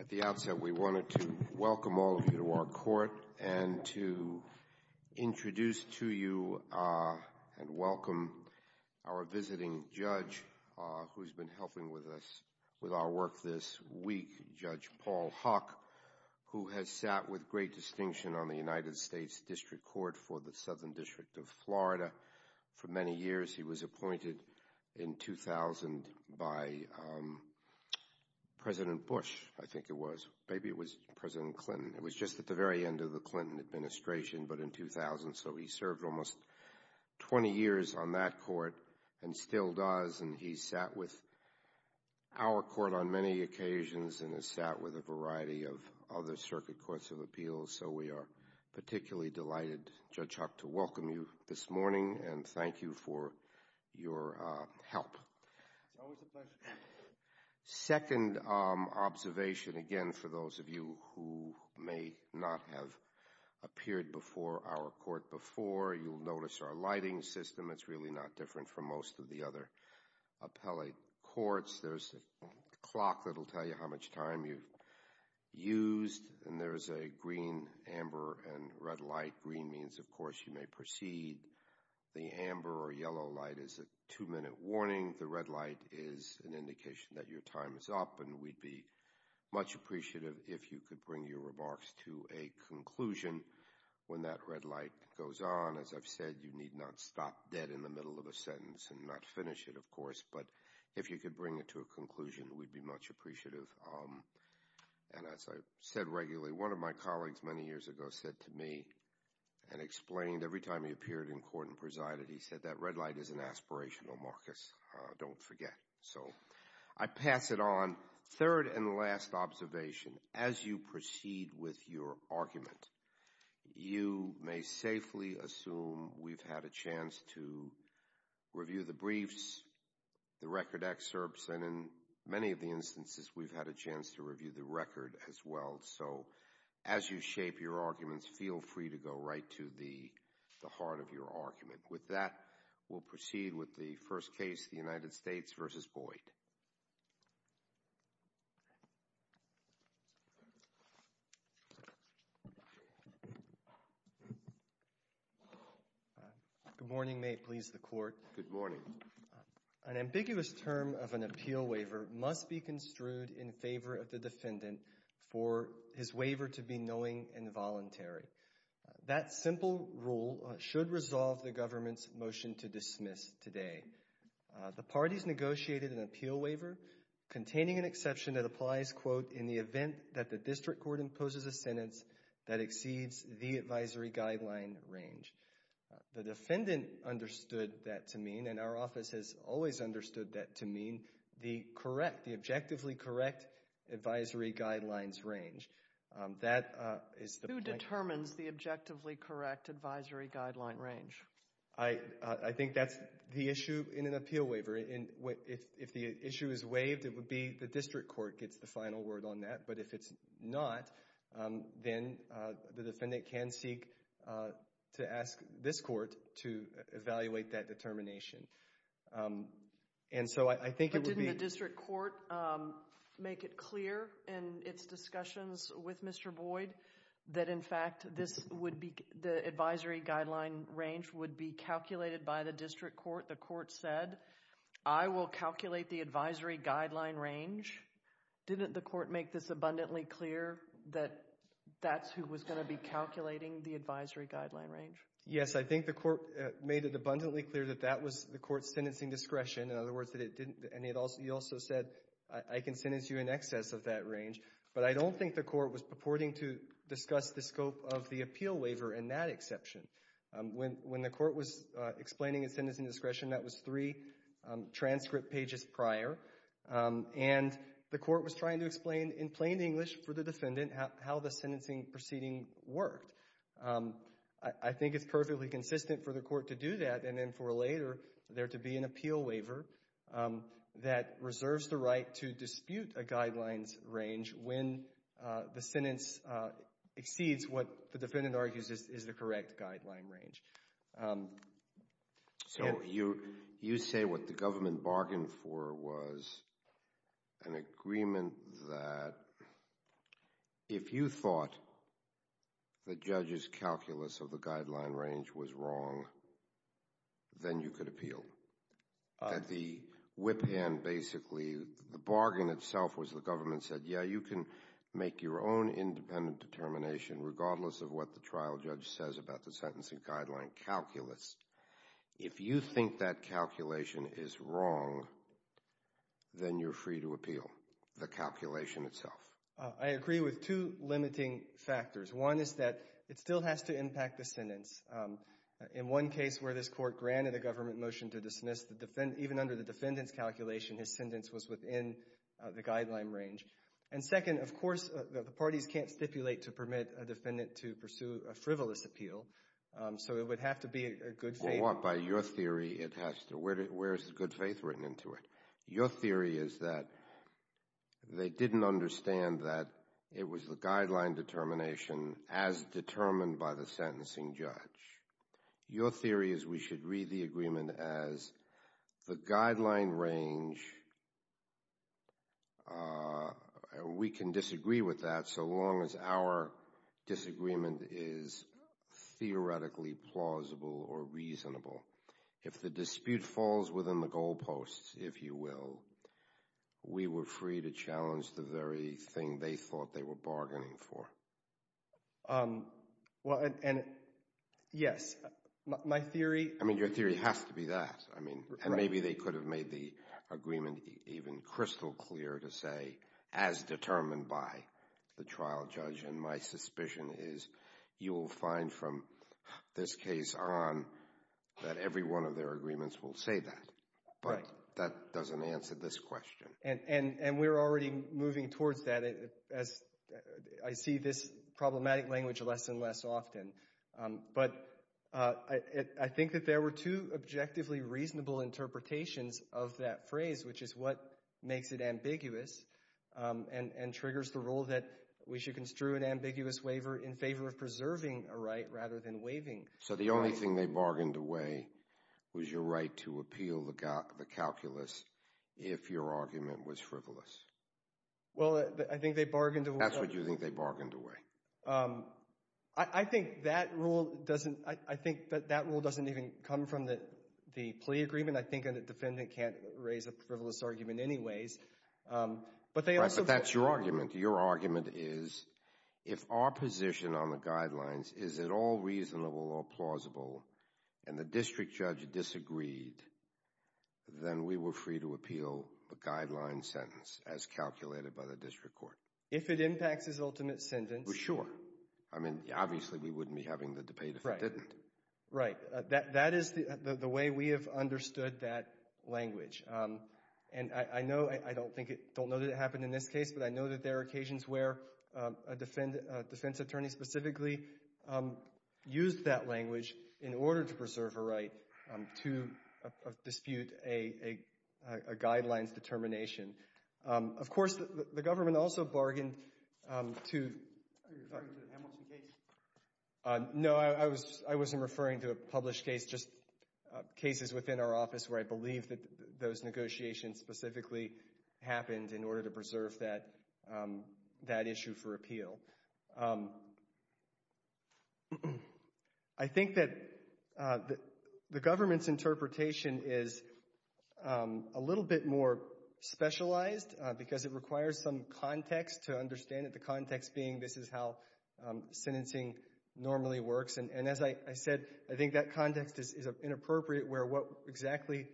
At the outset, we wanted to welcome all of you to our court and to introduce to you and welcome our visiting judge who's been helping with our work this week, Judge Paul Huck, who has sat with great distinction on the United States District Court for the Southern by President Bush, I think it was. Maybe it was President Clinton. It was just at the very end of the Clinton administration, but in 2000. So he served almost 20 years on that court and still does. And he's sat with our court on many occasions and has sat with a variety of other circuit courts of appeals. So we are particularly delighted, Judge Huck, to welcome you this morning and thank you for your help. It's always a pleasure. Second observation, again, for those of you who may not have appeared before our court before, you'll notice our lighting system. It's really not different from most of the other appellate courts. There's a clock that'll tell you how much time you've used, and there's a green, amber, and red light. Green means, of course, you may proceed. The amber or yellow light is a two-minute warning. The red light is an indication that your time is up, and we'd be much appreciative if you could bring your remarks to a conclusion when that red light goes on. As I've said, you need not stop dead in the middle of a sentence and not finish it, of course, but if you could bring it to a conclusion, we'd be much appreciative. And as I've said regularly, one of my colleagues many years ago said to me and explained every time he appeared in court and presided, he said, that red light is an aspirational, Marcus. Don't forget. So I pass it on. Third and last observation, as you proceed with your argument, you may safely assume we've had a chance to review the briefs, the record excerpts, and in many of the instances we've had a chance to review the record as well. So as you shape your arguments, feel free to go right to the heart of your argument. With that, we'll proceed with the first case, the United States v. Boyd. Good morning. May it please the Court. Good morning. An ambiguous term of an appeal waiver must be construed in favor of the defendant for his waiver to be knowing and voluntary. That simple rule should resolve the government's motion to dismiss today. The parties negotiated an appeal waiver containing an exception that applies, quote, in the event that the district court imposes a sentence that exceeds the Who determines the objectively correct advisory guideline range? I think that's the issue in an appeal waiver. If the issue is waived, it would be the district court gets the final word on that. But if it's not, then the defendant can seek to ask this court to evaluate that determination. And so I think it would be But didn't the district court make it clear in its discussions with Mr. Boyd that in fact this would be, the advisory guideline range would be calculated by the district court? The court said, I will calculate the advisory guideline range. Didn't the court make this abundantly clear that that's who was going to be calculating the advisory guideline range? Yes, I think the court made it abundantly clear that that was the court's sentencing discretion. In other words, that it didn't, and he also said, I can sentence you in excess of that range. But I don't think the court was purporting to discuss the scope of the appeal waiver in that exception. When the court was explaining its sentencing discretion, that was three transcript pages prior. And the court was trying to explain in plain English for the defendant how the sentencing proceeding worked. I think it's perfectly consistent for the court to do that and then for later there to be an appeal waiver that reserves the right to dispute a guidelines range when the sentence exceeds what the defendant argues is the correct guideline range. So you say what the government bargained for was an agreement that if you thought the judge's calculus of the guideline range was wrong, then you could appeal. The whip hand basically, the bargain itself was the government said, yeah, you can make your own independent determination regardless of what the trial judge says about the sentencing guideline calculus. If you think that calculation is wrong, then you're free to appeal the calculation itself. I agree with two limiting factors. One is that it still has to impact the sentence. In one case where this court granted a government motion to dismiss, even under the defendant's calculation, his sentence was within the guideline range. And second, of course, the parties can't stipulate to permit a defendant to pursue a frivolous appeal. So it would have to be a good faith. By your theory, it has to. Where is the good faith written into it? Your theory is that they didn't understand that it was the guideline determination as determined by the sentencing judge. Your theory is we should read the agreement as the guideline range. We can disagree with that so long as our disagreement is a good theoretically plausible or reasonable. If the dispute falls within the goalposts, if you will, we were free to challenge the very thing they thought they were bargaining for. And yes, my theory. I mean, your theory has to be that. I mean, and maybe they could have made the agreement even crystal clear to say as determined by the trial judge. And my suspicion is you will find from this case on that every one of their agreements will say that. But that doesn't answer this question. And we're already moving towards that as I see this problematic language less and less often. But I think that there were two objectively reasonable interpretations of that phrase, which is what makes it ambiguous and triggers the rule that we should construe an ambiguous waiver in favor of preserving a right rather than waiving. So the only thing they bargained away was your right to appeal the calculus if your argument was frivolous. Well, I think they bargained away. That's what you think they bargained away. I think that rule doesn't, I think that that rule doesn't even come from the plea agreement. I think a defendant can't raise a frivolous argument anyways. Right, but that's your argument. Your argument is if our position on the guidelines is at all reasonable or plausible and the district judge disagreed, then we were free to appeal a guideline sentence as calculated by the district court. If it impacts his ultimate sentence. Sure. I mean, obviously we wouldn't be having the debate if it didn't. Right. That is the way we have understood that language. And I know, I don't think, don't know that it happened in this case, but I know that there are occasions where a defense attorney specifically used that language in order to preserve a right to dispute a guidelines determination. Of course, the government also bargained to... Are you referring to the Hamilton case? No, I wasn't referring to a published case, just cases within our office where I believe that those negotiations specifically happened in order to preserve that issue for appeal. I think that the government's interpretation is a little bit more specialized because it doesn't say that everything normally works. And as I said, I think that context is inappropriate where exactly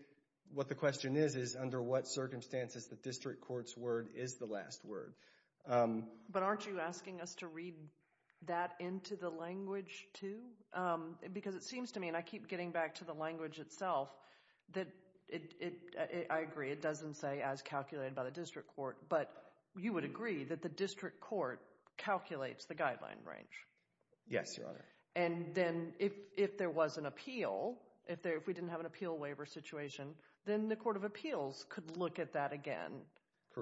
what the question is, is under what circumstances the district court's word is the last word. But aren't you asking us to read that into the language too? Because it seems to me, and I keep getting back to the language itself, that it, I agree, it doesn't say as calculated by the district court, but you would agree that the district court calculates the guideline range. Yes, Your Honor. And then if there was an appeal, if we didn't have an appeal waiver situation, then the court of appeals could look at that again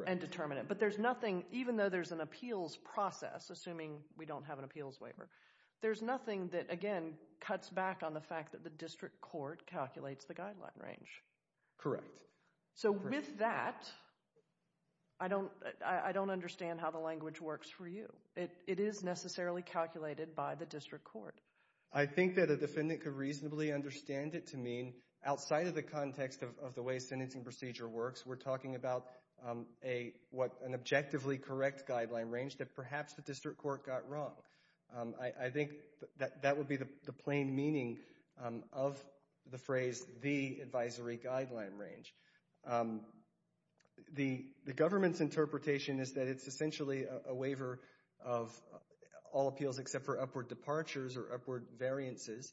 and determine it. But there's nothing, even though there's an appeals process, assuming we don't have an appeals waiver, there's nothing that, again, cuts back on the fact that the district court calculates the guideline range. Correct. So, with that, I don't understand how the language works for you. It is necessarily calculated by the district court. I think that a defendant could reasonably understand it to mean, outside of the context of the way sentencing procedure works, we're talking about an objectively correct guideline range that perhaps the district court got wrong. I think that would be the plain meaning of the phrase, the advisory guideline range. The government's interpretation is that it's all appeals except for upward departures or upward variances,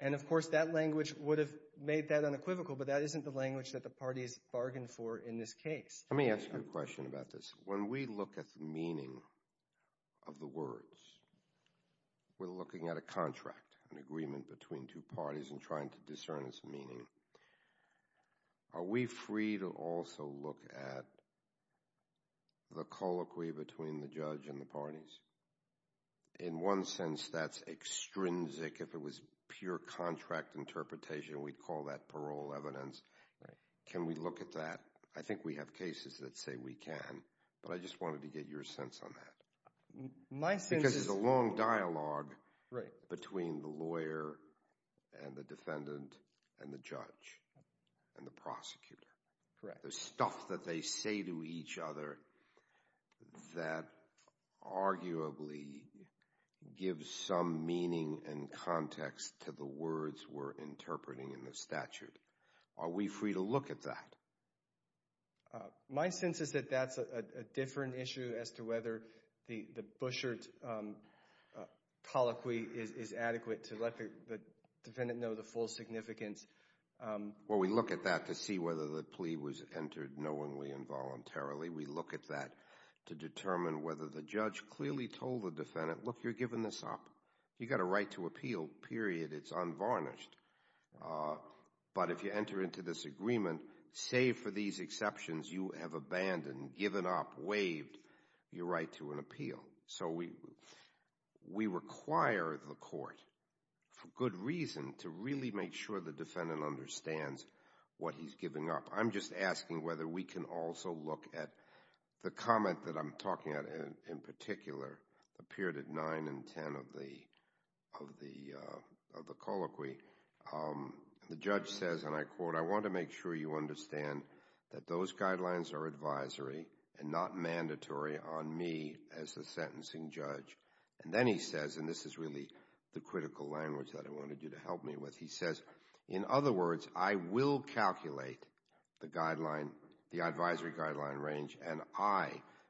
and of course that language would have made that unequivocal, but that isn't the language that the parties bargained for in this case. Let me ask you a question about this. When we look at the meaning of the words, we're looking at a contract, an agreement between two parties and trying to discern its meaning. Are we free to also look at the colloquy between the judge and the parties? In one sense, that's extrinsic. If it was pure contract interpretation, we'd call that parole evidence. Can we look at that? I think we have cases that say we can, but I just wanted to get your sense on that because there's a long dialogue between the lawyer and the defendant and the judge and the prosecutor. Correct. There's stuff that they say to each other that arguably gives some meaning and context to the words we're interpreting in the statute. Are we free to look at that? My sense is that that's a different issue as to whether the Bouchard colloquy is adequate to let the defendant know the full significance. We look at that to see whether the plea was entered knowingly and voluntarily. We look at that to determine whether the judge clearly told the defendant, look, you're given this op. You've got a right to appeal, period. It's unvarnished. But if you enter into this agreement, save for these exceptions, you have abandoned, given up, waived your right to an appeal. So we require the court, for good reason, to really make sure the defendant understands what he's giving up. I'm just asking whether we can also look at the comment that I'm talking about in particular, appeared at 9 and 10 of the colloquy. The judge says, and I quote, I want to make sure you understand that those guidelines are advisory and not mandatory on me as the sentencing judge. And then he says, and this is really the critical language that I wanted you to help me with, he says, in other words, I will calculate the advisory guideline range and I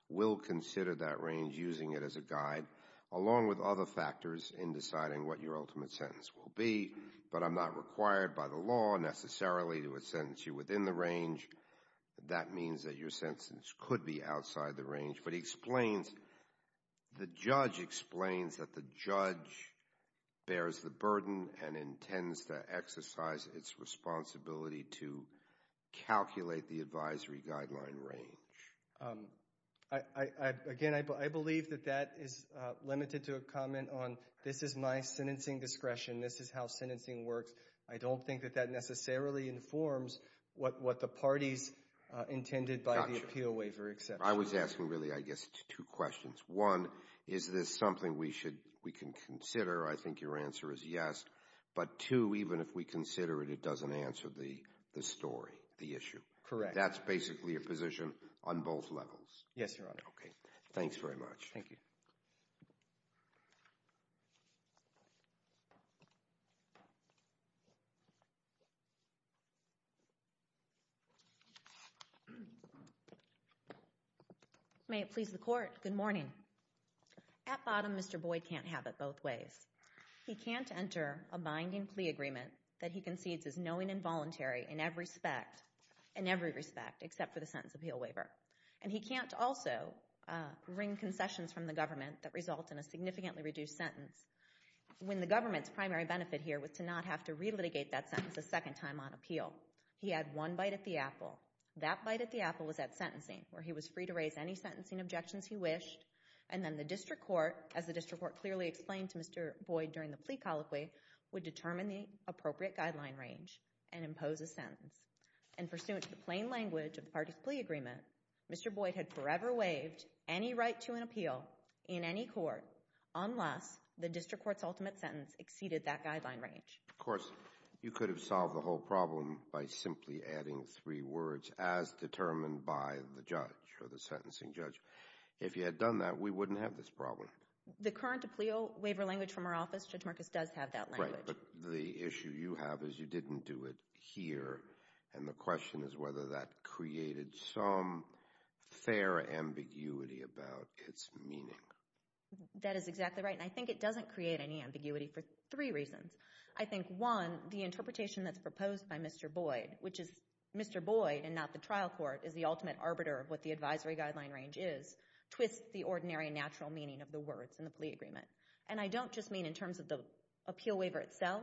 will consider that range using it as a guide, along with other factors in deciding what your ultimate sentence will be, but I'm not required by the law necessarily to sentence you within the range. That means that your sentence could be outside the range. But he explains, the judge explains that the judge bears the burden and intends to exercise its responsibility to calculate the advisory guideline range. Again, I believe that that is limited to a comment on, this is my sentencing discretion, this is how sentencing works. I don't think that that necessarily informs what the parties intended by the appeal waiver exception. I was asking really, I guess, two questions. One, is this something we should, we can consider? I think your answer is yes. But two, even if we consider it, it doesn't answer the story, the issue. Correct. That's basically your position on both levels. Yes, Your Honor. Okay. Thanks very much. Thank you. May it please the Court. Good morning. At bottom, Mr. Boyd can't have it both ways. He can't enter a binding plea agreement that he concedes is knowing and voluntary in every respect except for the sentence appeal waiver. And he can't also bring concessions from the have to relitigate that sentence a second time on appeal. He had one bite at the apple. That bite at the apple was at sentencing where he was free to raise any sentencing objections he wished. And then the district court, as the district court clearly explained to Mr. Boyd during the plea colloquy, would determine the appropriate guideline range and impose a sentence. And pursuant to the plain language of the parties plea agreement, Mr. Boyd had forever waived any right to an appeal in any court unless the district court's ultimate sentence exceeded that guideline range. Of course, you could have solved the whole problem by simply adding three words, as determined by the judge or the sentencing judge. If you had done that, we wouldn't have this problem. The current appeal waiver language from our office, Judge Marcus, does have that language. Right. But the issue you have is you didn't do it here. And the question is whether that created some fair ambiguity about its meaning. That is exactly right. And I think it doesn't create any ambiguity for three reasons. I think, one, the interpretation that's proposed by Mr. Boyd, which is Mr. Boyd and not the trial court, is the ultimate arbiter of what the advisory guideline range is, twists the ordinary and natural meaning of the words in the plea agreement. And I don't just mean in terms of the appeal waiver itself.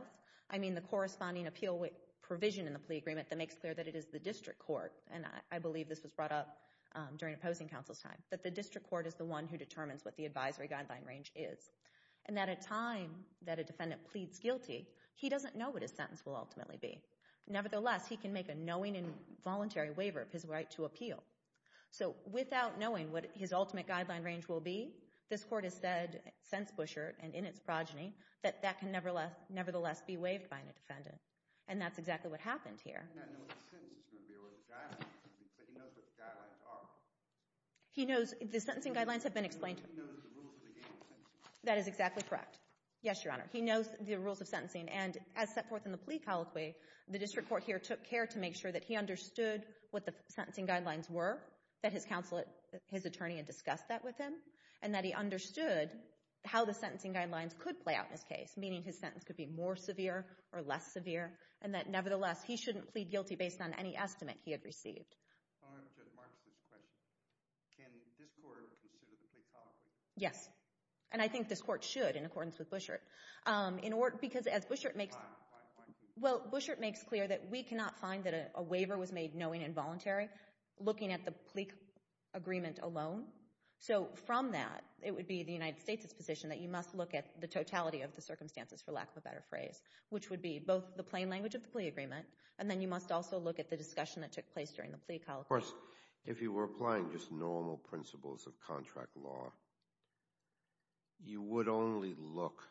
I mean the corresponding appeal provision in the plea agreement that makes clear that it is the district court, and I believe this was brought up during opposing counsel's time, that the district court is the one who determines what the advisory guideline range is. And that at a time that a defendant pleads guilty, he doesn't know what his sentence will ultimately be. Nevertheless, he can make a knowing and voluntary waiver of his right to appeal. So without knowing what his ultimate guideline range will be, this court has said, since Buschert and in its progeny, that that can nevertheless be waived by a defendant. And that's exactly what happened here. He does not know what the sentence is going to be or what the guidelines are, but he knows what the guidelines are. He knows, the sentencing guidelines have been explained to him. But he knows the rules of the game of sentencing. That is exactly correct. Yes, Your Honor. He knows the rules of sentencing. And as set forth in the plea colloquy, the district court here took care to make sure that he understood what the sentencing guidelines were, that his counsel, his attorney, had discussed that with him, and that he understood how the sentencing guidelines could play out in his case, meaning his sentence could be more severe or less severe, and that nevertheless, he shouldn't plead guilty based on any estimate he had received. On Judge Marks' question, can this court consider the plea colloquy? Yes. And I think this court should, in accordance with Buschert. In order, because as Buschert makes... Why? Why can't he? Well, Buschert makes clear that we cannot find that a waiver was made knowing involuntary, looking at the plea agreement alone. So from that, it would be the United States' position that you must look at the totality of the circumstances, for lack of a better phrase, which would be both the plain language of the plea agreement, and then you must also look at the discussion that took place during the plea colloquy. Of course, if you were applying just normal principles of contract law, you would only look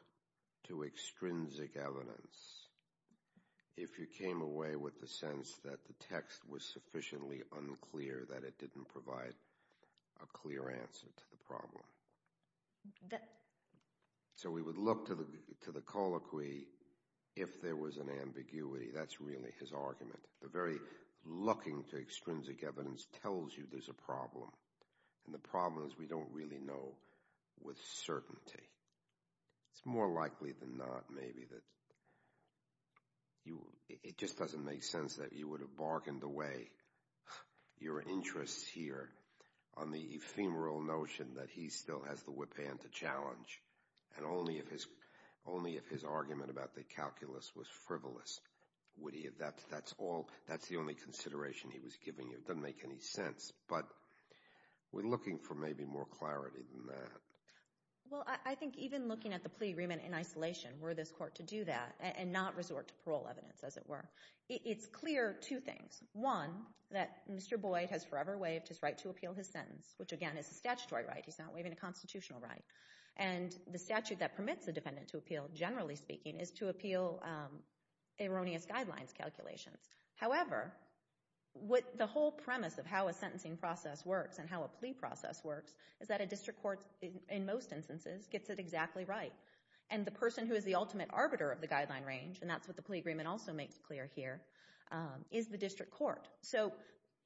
to extrinsic evidence if you came away with the sense that the text was sufficiently unclear, that it didn't provide a clear answer to the problem. So we would look to the colloquy if there was an ambiguity. That's really his argument. The very looking to extrinsic evidence tells you there's a problem. And the problem is we don't really know with certainty. It's more likely than not, maybe, that you... It just doesn't make sense that you would have bargained away your interests here on the bill, has the whip hand to challenge, and only if his argument about the calculus was frivolous would he have... That's the only consideration he was giving you. It doesn't make any sense. But we're looking for maybe more clarity than that. Well, I think even looking at the plea agreement in isolation, were this court to do that and not resort to parole evidence, as it were? It's clear two things. One, that Mr. Boyd has forever waived his right to appeal his sentence, which, again, is a statutory right. He's not waiving a constitutional right. And the statute that permits a defendant to appeal, generally speaking, is to appeal erroneous guidelines calculations. However, the whole premise of how a sentencing process works and how a plea process works is that a district court, in most instances, gets it exactly right. And the person who is the ultimate arbiter of the guideline range, and that's what the plea agreement also makes clear here, is the district court. So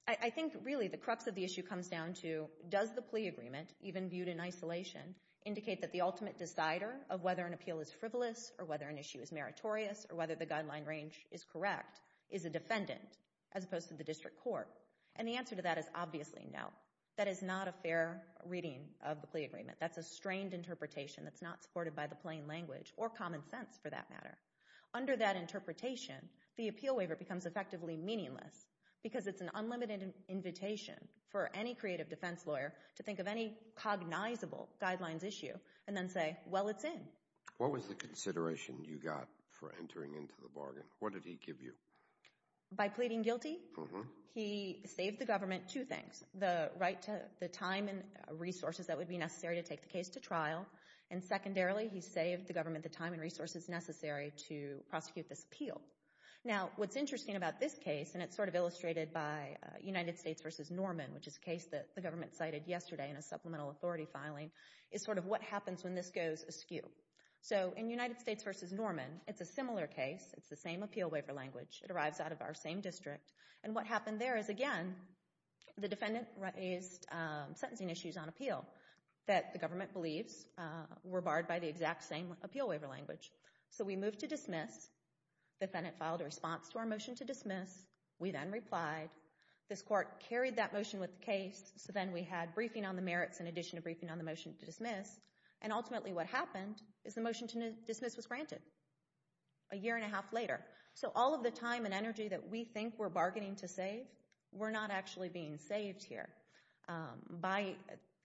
I think, really, the crux of the issue comes down to does the plea agreement, even viewed in isolation, indicate that the ultimate decider of whether an appeal is frivolous or whether an issue is meritorious or whether the guideline range is correct is a defendant, as opposed to the district court? And the answer to that is obviously no. That is not a fair reading of the plea agreement. That's a strained interpretation that's not supported by the plain language, or common sense, for that matter. Under that interpretation, the appeal waiver becomes effectively meaningless, because it's an cognizable guidelines issue, and then say, well, it's in. What was the consideration you got for entering into the bargain? What did he give you? By pleading guilty, he saved the government two things. The right to the time and resources that would be necessary to take the case to trial, and secondarily, he saved the government the time and resources necessary to prosecute this appeal. Now, what's interesting about this case, and it's sort of illustrated by United States v. Norman, which is a case that the government cited yesterday in a supplemental authority filing, is sort of what happens when this goes askew. So in United States v. Norman, it's a similar case. It's the same appeal waiver language. It arrives out of our same district, and what happened there is, again, the defendant raised sentencing issues on appeal that the government believes were barred by the exact same appeal waiver language. So we moved to dismiss. The defendant filed a response to our motion to dismiss. We then replied. This court carried that motion with the case, so then we had briefing on the merits in addition to briefing on the motion to dismiss, and ultimately what happened is the motion to dismiss was granted a year and a half later. So all of the time and energy that we think we're bargaining to save were not actually being saved here by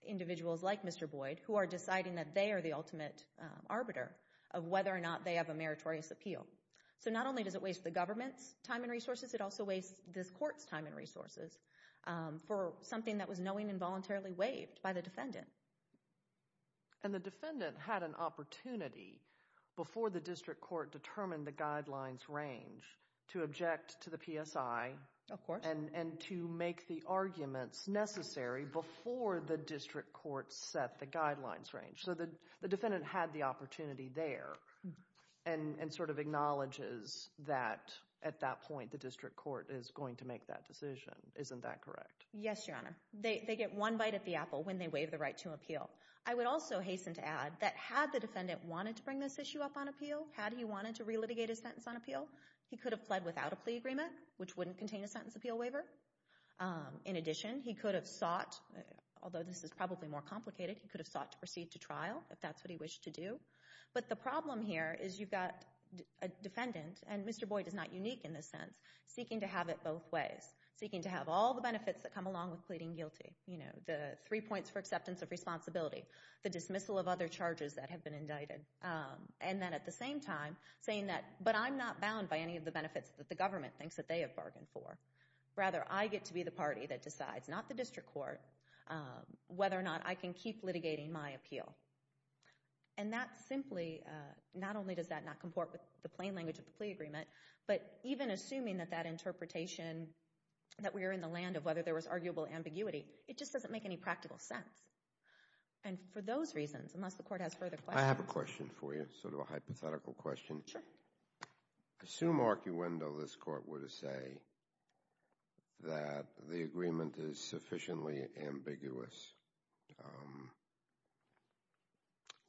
individuals like Mr. Boyd, who are deciding that they are the ultimate arbiter of whether or not they have a meritorious appeal. So not only does it waste the government's time and resources, it also wastes this court's time and resources for something that was knowingly and voluntarily waived by the defendant. And the defendant had an opportunity before the district court determined the guidelines range to object to the PSI and to make the arguments necessary before the district court set the guidelines range. So the defendant had the opportunity there and sort of acknowledges that at that point the district court is going to make that decision. Isn't that correct? Yes, Your Honor. They get one bite at the apple when they waive the right to appeal. I would also hasten to add that had the defendant wanted to bring this issue up on appeal, had he wanted to relitigate his sentence on appeal, he could have fled without a plea agreement, which wouldn't contain a sentence appeal waiver. In addition, he could have sought, although this is probably more complicated, he could have sought to proceed to trial if that's what he wished to do. But the problem here is you've got a defendant, and Mr. Boyd is not unique in this sense, seeking to have it both ways. Seeking to have all the benefits that come along with pleading guilty. You know, the three points for acceptance of responsibility, the dismissal of other charges that have been indicted, and then at the same time saying that, but I'm not bound by any of the benefits that the government thinks that they have bargained for. Rather, I get to be the party that decides, not the district court, whether or not I can keep litigating my appeal. And that simply, not only does that not comport with the plain language of the plea agreement, but even assuming that that interpretation, that we are in the land of whether there was arguable ambiguity, it just doesn't make any practical sense. And for those reasons, unless the court has further questions. I have a question for you, sort of a hypothetical question. Sure. I assume, arcuendo, this court would say that the agreement is sufficiently ambiguous.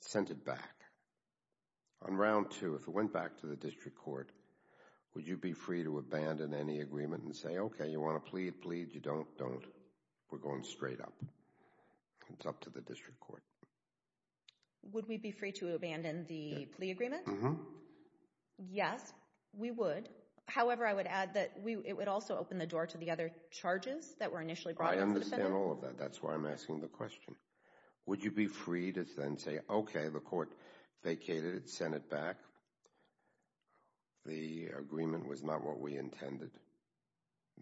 Sent it back. On round two, if it went back to the district court, would you be free to abandon any agreement and say, okay, you want to plead, plead, you don't, don't. We're going straight up. It's up to the district court. Would we be free to abandon the plea agreement? Mm-hmm. Yes, we would. However, I would add that it would also open the door to the other charges that were initially brought against the defendant. I understand all of that. That's why I'm asking the question. Would you be free to then say, okay, the court vacated it, sent it back. The agreement was not what we intended.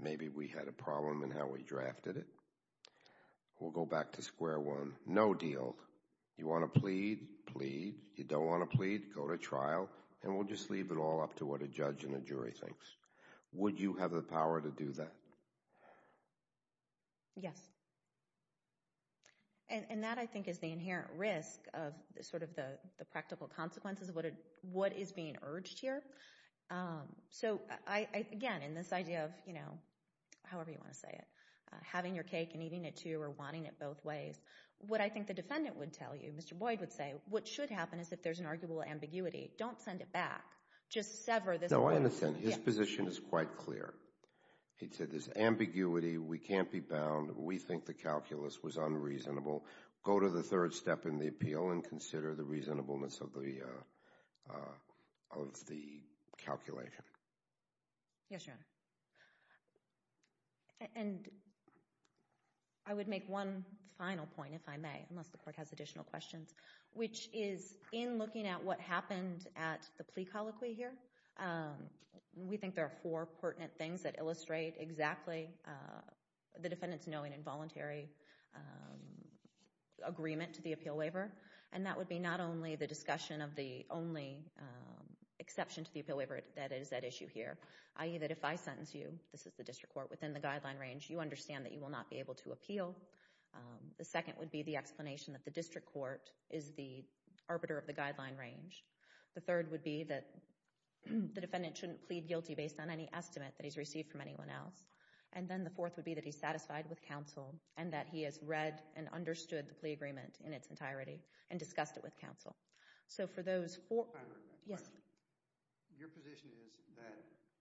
Maybe we had a problem in how we drafted it. We'll go back to square one. No deal. You want to plead, plead. You don't want to plead. Go to trial. And we'll just leave it all up to what a judge and a jury thinks. Would you have the power to do that? Yes. And that, I think, is the inherent risk of sort of the practical consequences of what is being urged here. So, again, in this idea of, you know, however you want to say it, having your cake and eating it too or wanting it both ways, what I think the defendant would tell you, Mr. Boyd would say, what should happen is if there's an arguable ambiguity, don't send it back. Just sever this point. No, I understand. His position is quite clear. He said this ambiguity, we can't be bound, we think the calculus was unreasonable. Go to the third step in the appeal and consider the reasonableness of the calculation. Yes, Your Honor. And I would make one final point, if I may, unless the court has additional questions. Which is, in looking at what happened at the plea colloquy here, we think there are four pertinent things that illustrate exactly the defendant's knowing involuntary agreement to the appeal waiver. And that would be not only the discussion of the only exception to the appeal waiver that is at issue here, i.e. that if I sentence you, this is the district court, within the guideline range, you understand that you will not be able to appeal. The second would be the explanation that the district court is the arbiter of the guideline range. The third would be that the defendant shouldn't plead guilty based on any estimate that he's received from anyone else. And then the fourth would be that he's satisfied with counsel and that he has read and understood the plea agreement in its entirety and discussed it with counsel. So for those four... I have a question. Yes. Your position is that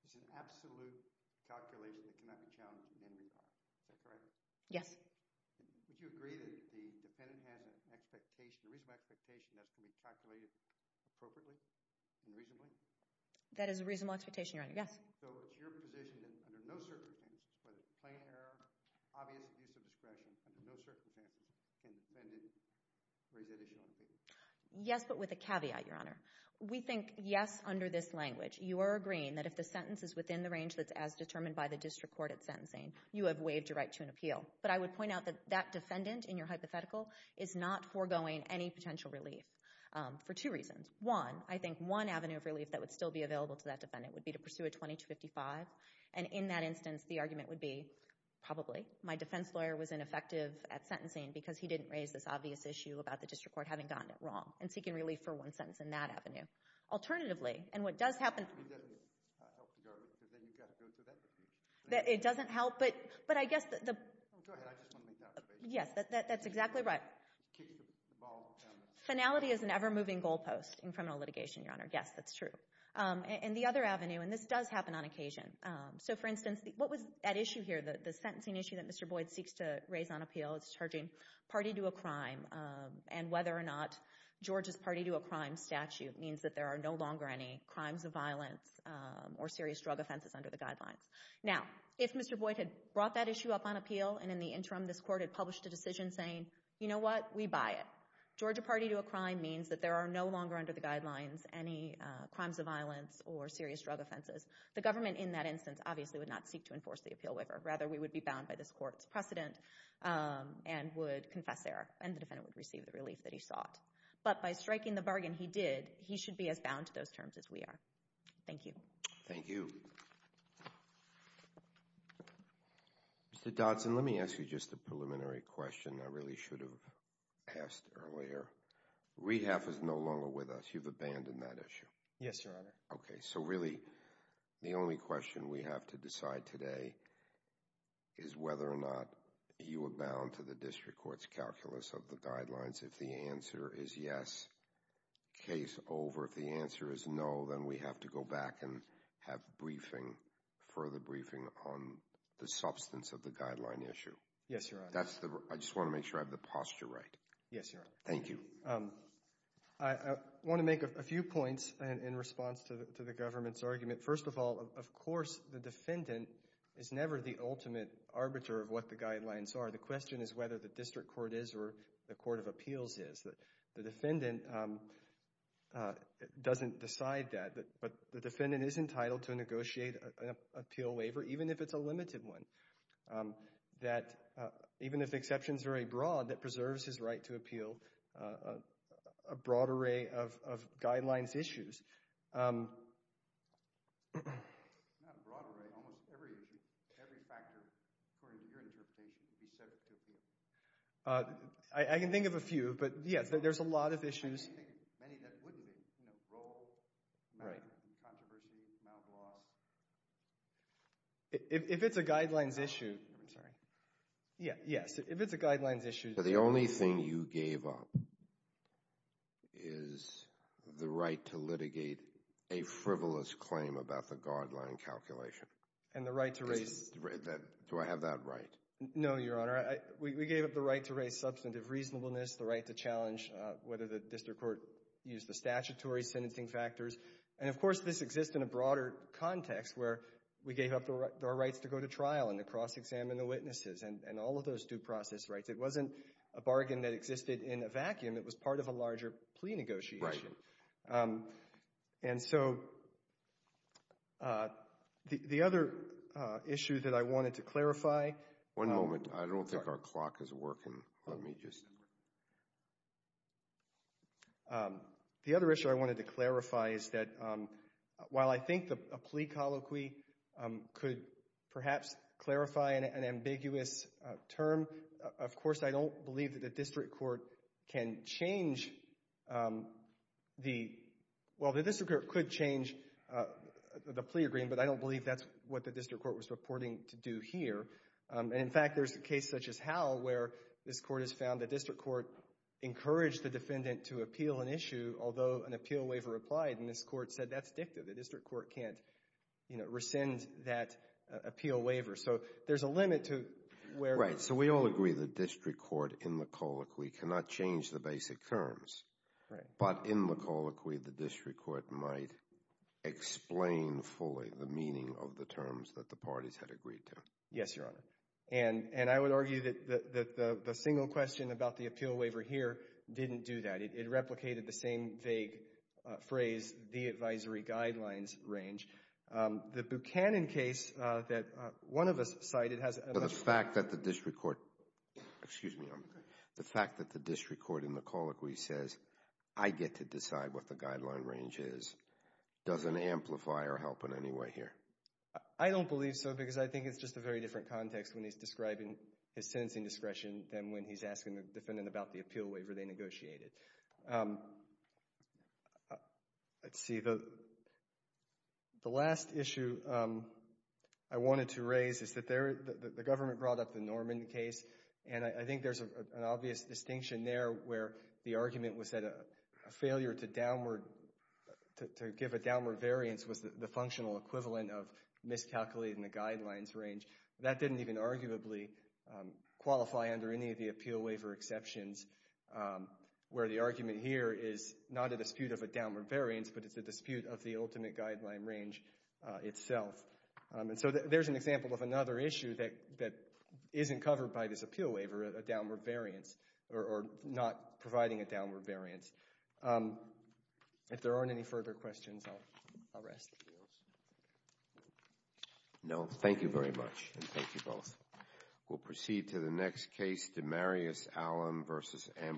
it's an absolute calculation that cannot be challenged in any way. Is that correct? Yes. Would you agree that the defendant has an expectation, a reasonable expectation, that's going to be calculated appropriately and reasonably? That is a reasonable expectation, Your Honor, yes. So it's your position that under no circumstances, whether it's plain error, obvious abuse of discretion, under no circumstances can the defendant raise the issue on appeal? Yes, but with a caveat, Your Honor. We think yes under this language. You are agreeing that if the sentence is within the range that's as determined by the district court at sentencing, you have waived your right to an appeal. But I would point out that that defendant in your hypothetical is not foregoing any potential relief for two reasons. One, I think one avenue of relief that would still be available to that defendant would be to pursue a 2255. And in that instance, the argument would be probably my defense lawyer was ineffective at sentencing because he didn't raise this obvious issue about the district court having gotten it wrong and seeking relief for one sentence in that avenue. Alternatively, and what does happen... It doesn't help the argument that you've got to go through that procedure. It doesn't help, but I guess the... Go ahead. I just want to make that observation. Yes, that's exactly right. Kick the ball down the... Finality is an ever-moving goalpost in criminal litigation, Your Honor. Yes, that's true. And the other avenue, and this does happen on occasion. So for instance, what was that issue here, the sentencing issue that Mr. Boyd seeks to raise on appeal? It's charging party to a crime, and whether or not George's party to a crime statute means that there are no longer any crimes of violence or serious drug offenses under the guidelines. Now, if Mr. Boyd had brought that issue up on appeal and in the interim this court had published a decision saying, you know what? We buy it. Georgia party to a crime means that there are no longer under the guidelines any crimes of violence or serious drug offenses. The government in that instance obviously would not seek to enforce the appeal waiver. Rather, we would be bound by this court's precedent and would confess there, and the defendant would receive the relief that he sought. But by striking the bargain he did, he should be as bound to those terms as we are. Thank you. Thank you. Mr. Dodson, let me ask you just a preliminary question I really should have asked earlier. Rehab is no longer with us. You've abandoned that issue. Yes, Your Honor. Okay. So really the only question we have to decide today is whether or not you are bound to the district court's calculus of the guidelines. If the answer is yes, case over. If the answer is no, then we have to go back and have briefing, further briefing on the substance of the guideline issue. Yes, Your Honor. I just want to make sure I have the posture right. Yes, Your Honor. Thank you. I want to make a few points in response to the government's argument. First of all, of course the defendant is never the ultimate arbiter of what the guidelines are. The question is whether the district court is or the court of appeals is. The defendant doesn't decide that, but the defendant is entitled to negotiate an appeal waiver even if it's a limited one. Even if the exception is very broad, that preserves his right to appeal a broad array of guidelines issues. Not a broad array. Almost every issue, every factor, according to your interpretation, would be subject to appeal. I can think of a few, but, yes, there's a lot of issues. Many that wouldn't be. Role, controversy, mouth loss. If it's a guidelines issue, yes, if it's a guidelines issue. The only thing you gave up is the right to litigate a frivolous claim about the guideline calculation. And the right to raise – Do I have that right? No, Your Honor. We gave up the right to raise substantive reasonableness, the right to challenge whether the district court used the statutory sentencing factors. And, of course, this exists in a broader context where we gave up our rights to go to trial and to cross-examine the witnesses and all of those due process rights. It wasn't a bargain that existed in a vacuum. It was part of a larger plea negotiation. Right. And so the other issue that I wanted to clarify – One moment. I don't think our clock is working. Let me just – The other issue I wanted to clarify is that while I think a plea colloquy could perhaps clarify an ambiguous term, of course, I don't believe that the district court can change the – Well, the district court could change the plea agreement, but I don't believe that's what the district court was reporting to do here. And, in fact, there's a case such as Howe where this court has found the district court encouraged the defendant to appeal an issue, although an appeal waiver applied, and this court said that's dictative. The district court can't rescind that appeal waiver. So there's a limit to where – Right. So we all agree the district court in the colloquy cannot change the basic terms. Right. But in the colloquy, the district court might explain fully the meaning of the terms that the parties had agreed to. Yes, Your Honor. And I would argue that the single question about the appeal waiver here didn't do that. It replicated the same vague phrase, the advisory guidelines range. The Buchanan case that one of us cited has – So the fact that the district court – excuse me. The fact that the district court in the colloquy says, I get to decide what the guideline range is doesn't amplify or help in any way here? I don't believe so because I think it's just a very different context when he's describing his sentencing discretion than when he's asking the defendant about the appeal waiver they negotiated. Let's see. The last issue I wanted to raise is that the government brought up the Norman case, and I think there's an obvious distinction there where the argument was that a failure to give a downward variance was the functional equivalent of miscalculating the guidelines range. That didn't even arguably qualify under any of the appeal waiver exceptions where the argument here is not a dispute of a downward variance, but it's a dispute of the ultimate guideline range itself. And so there's an example of another issue that isn't covered by this appeal waiver, a downward variance, or not providing a downward variance. If there aren't any further questions, I'll rest the bills. No? Thank you very much, and thank you both. We'll proceed to the next case, DeMarius Allen v. Ambrogi.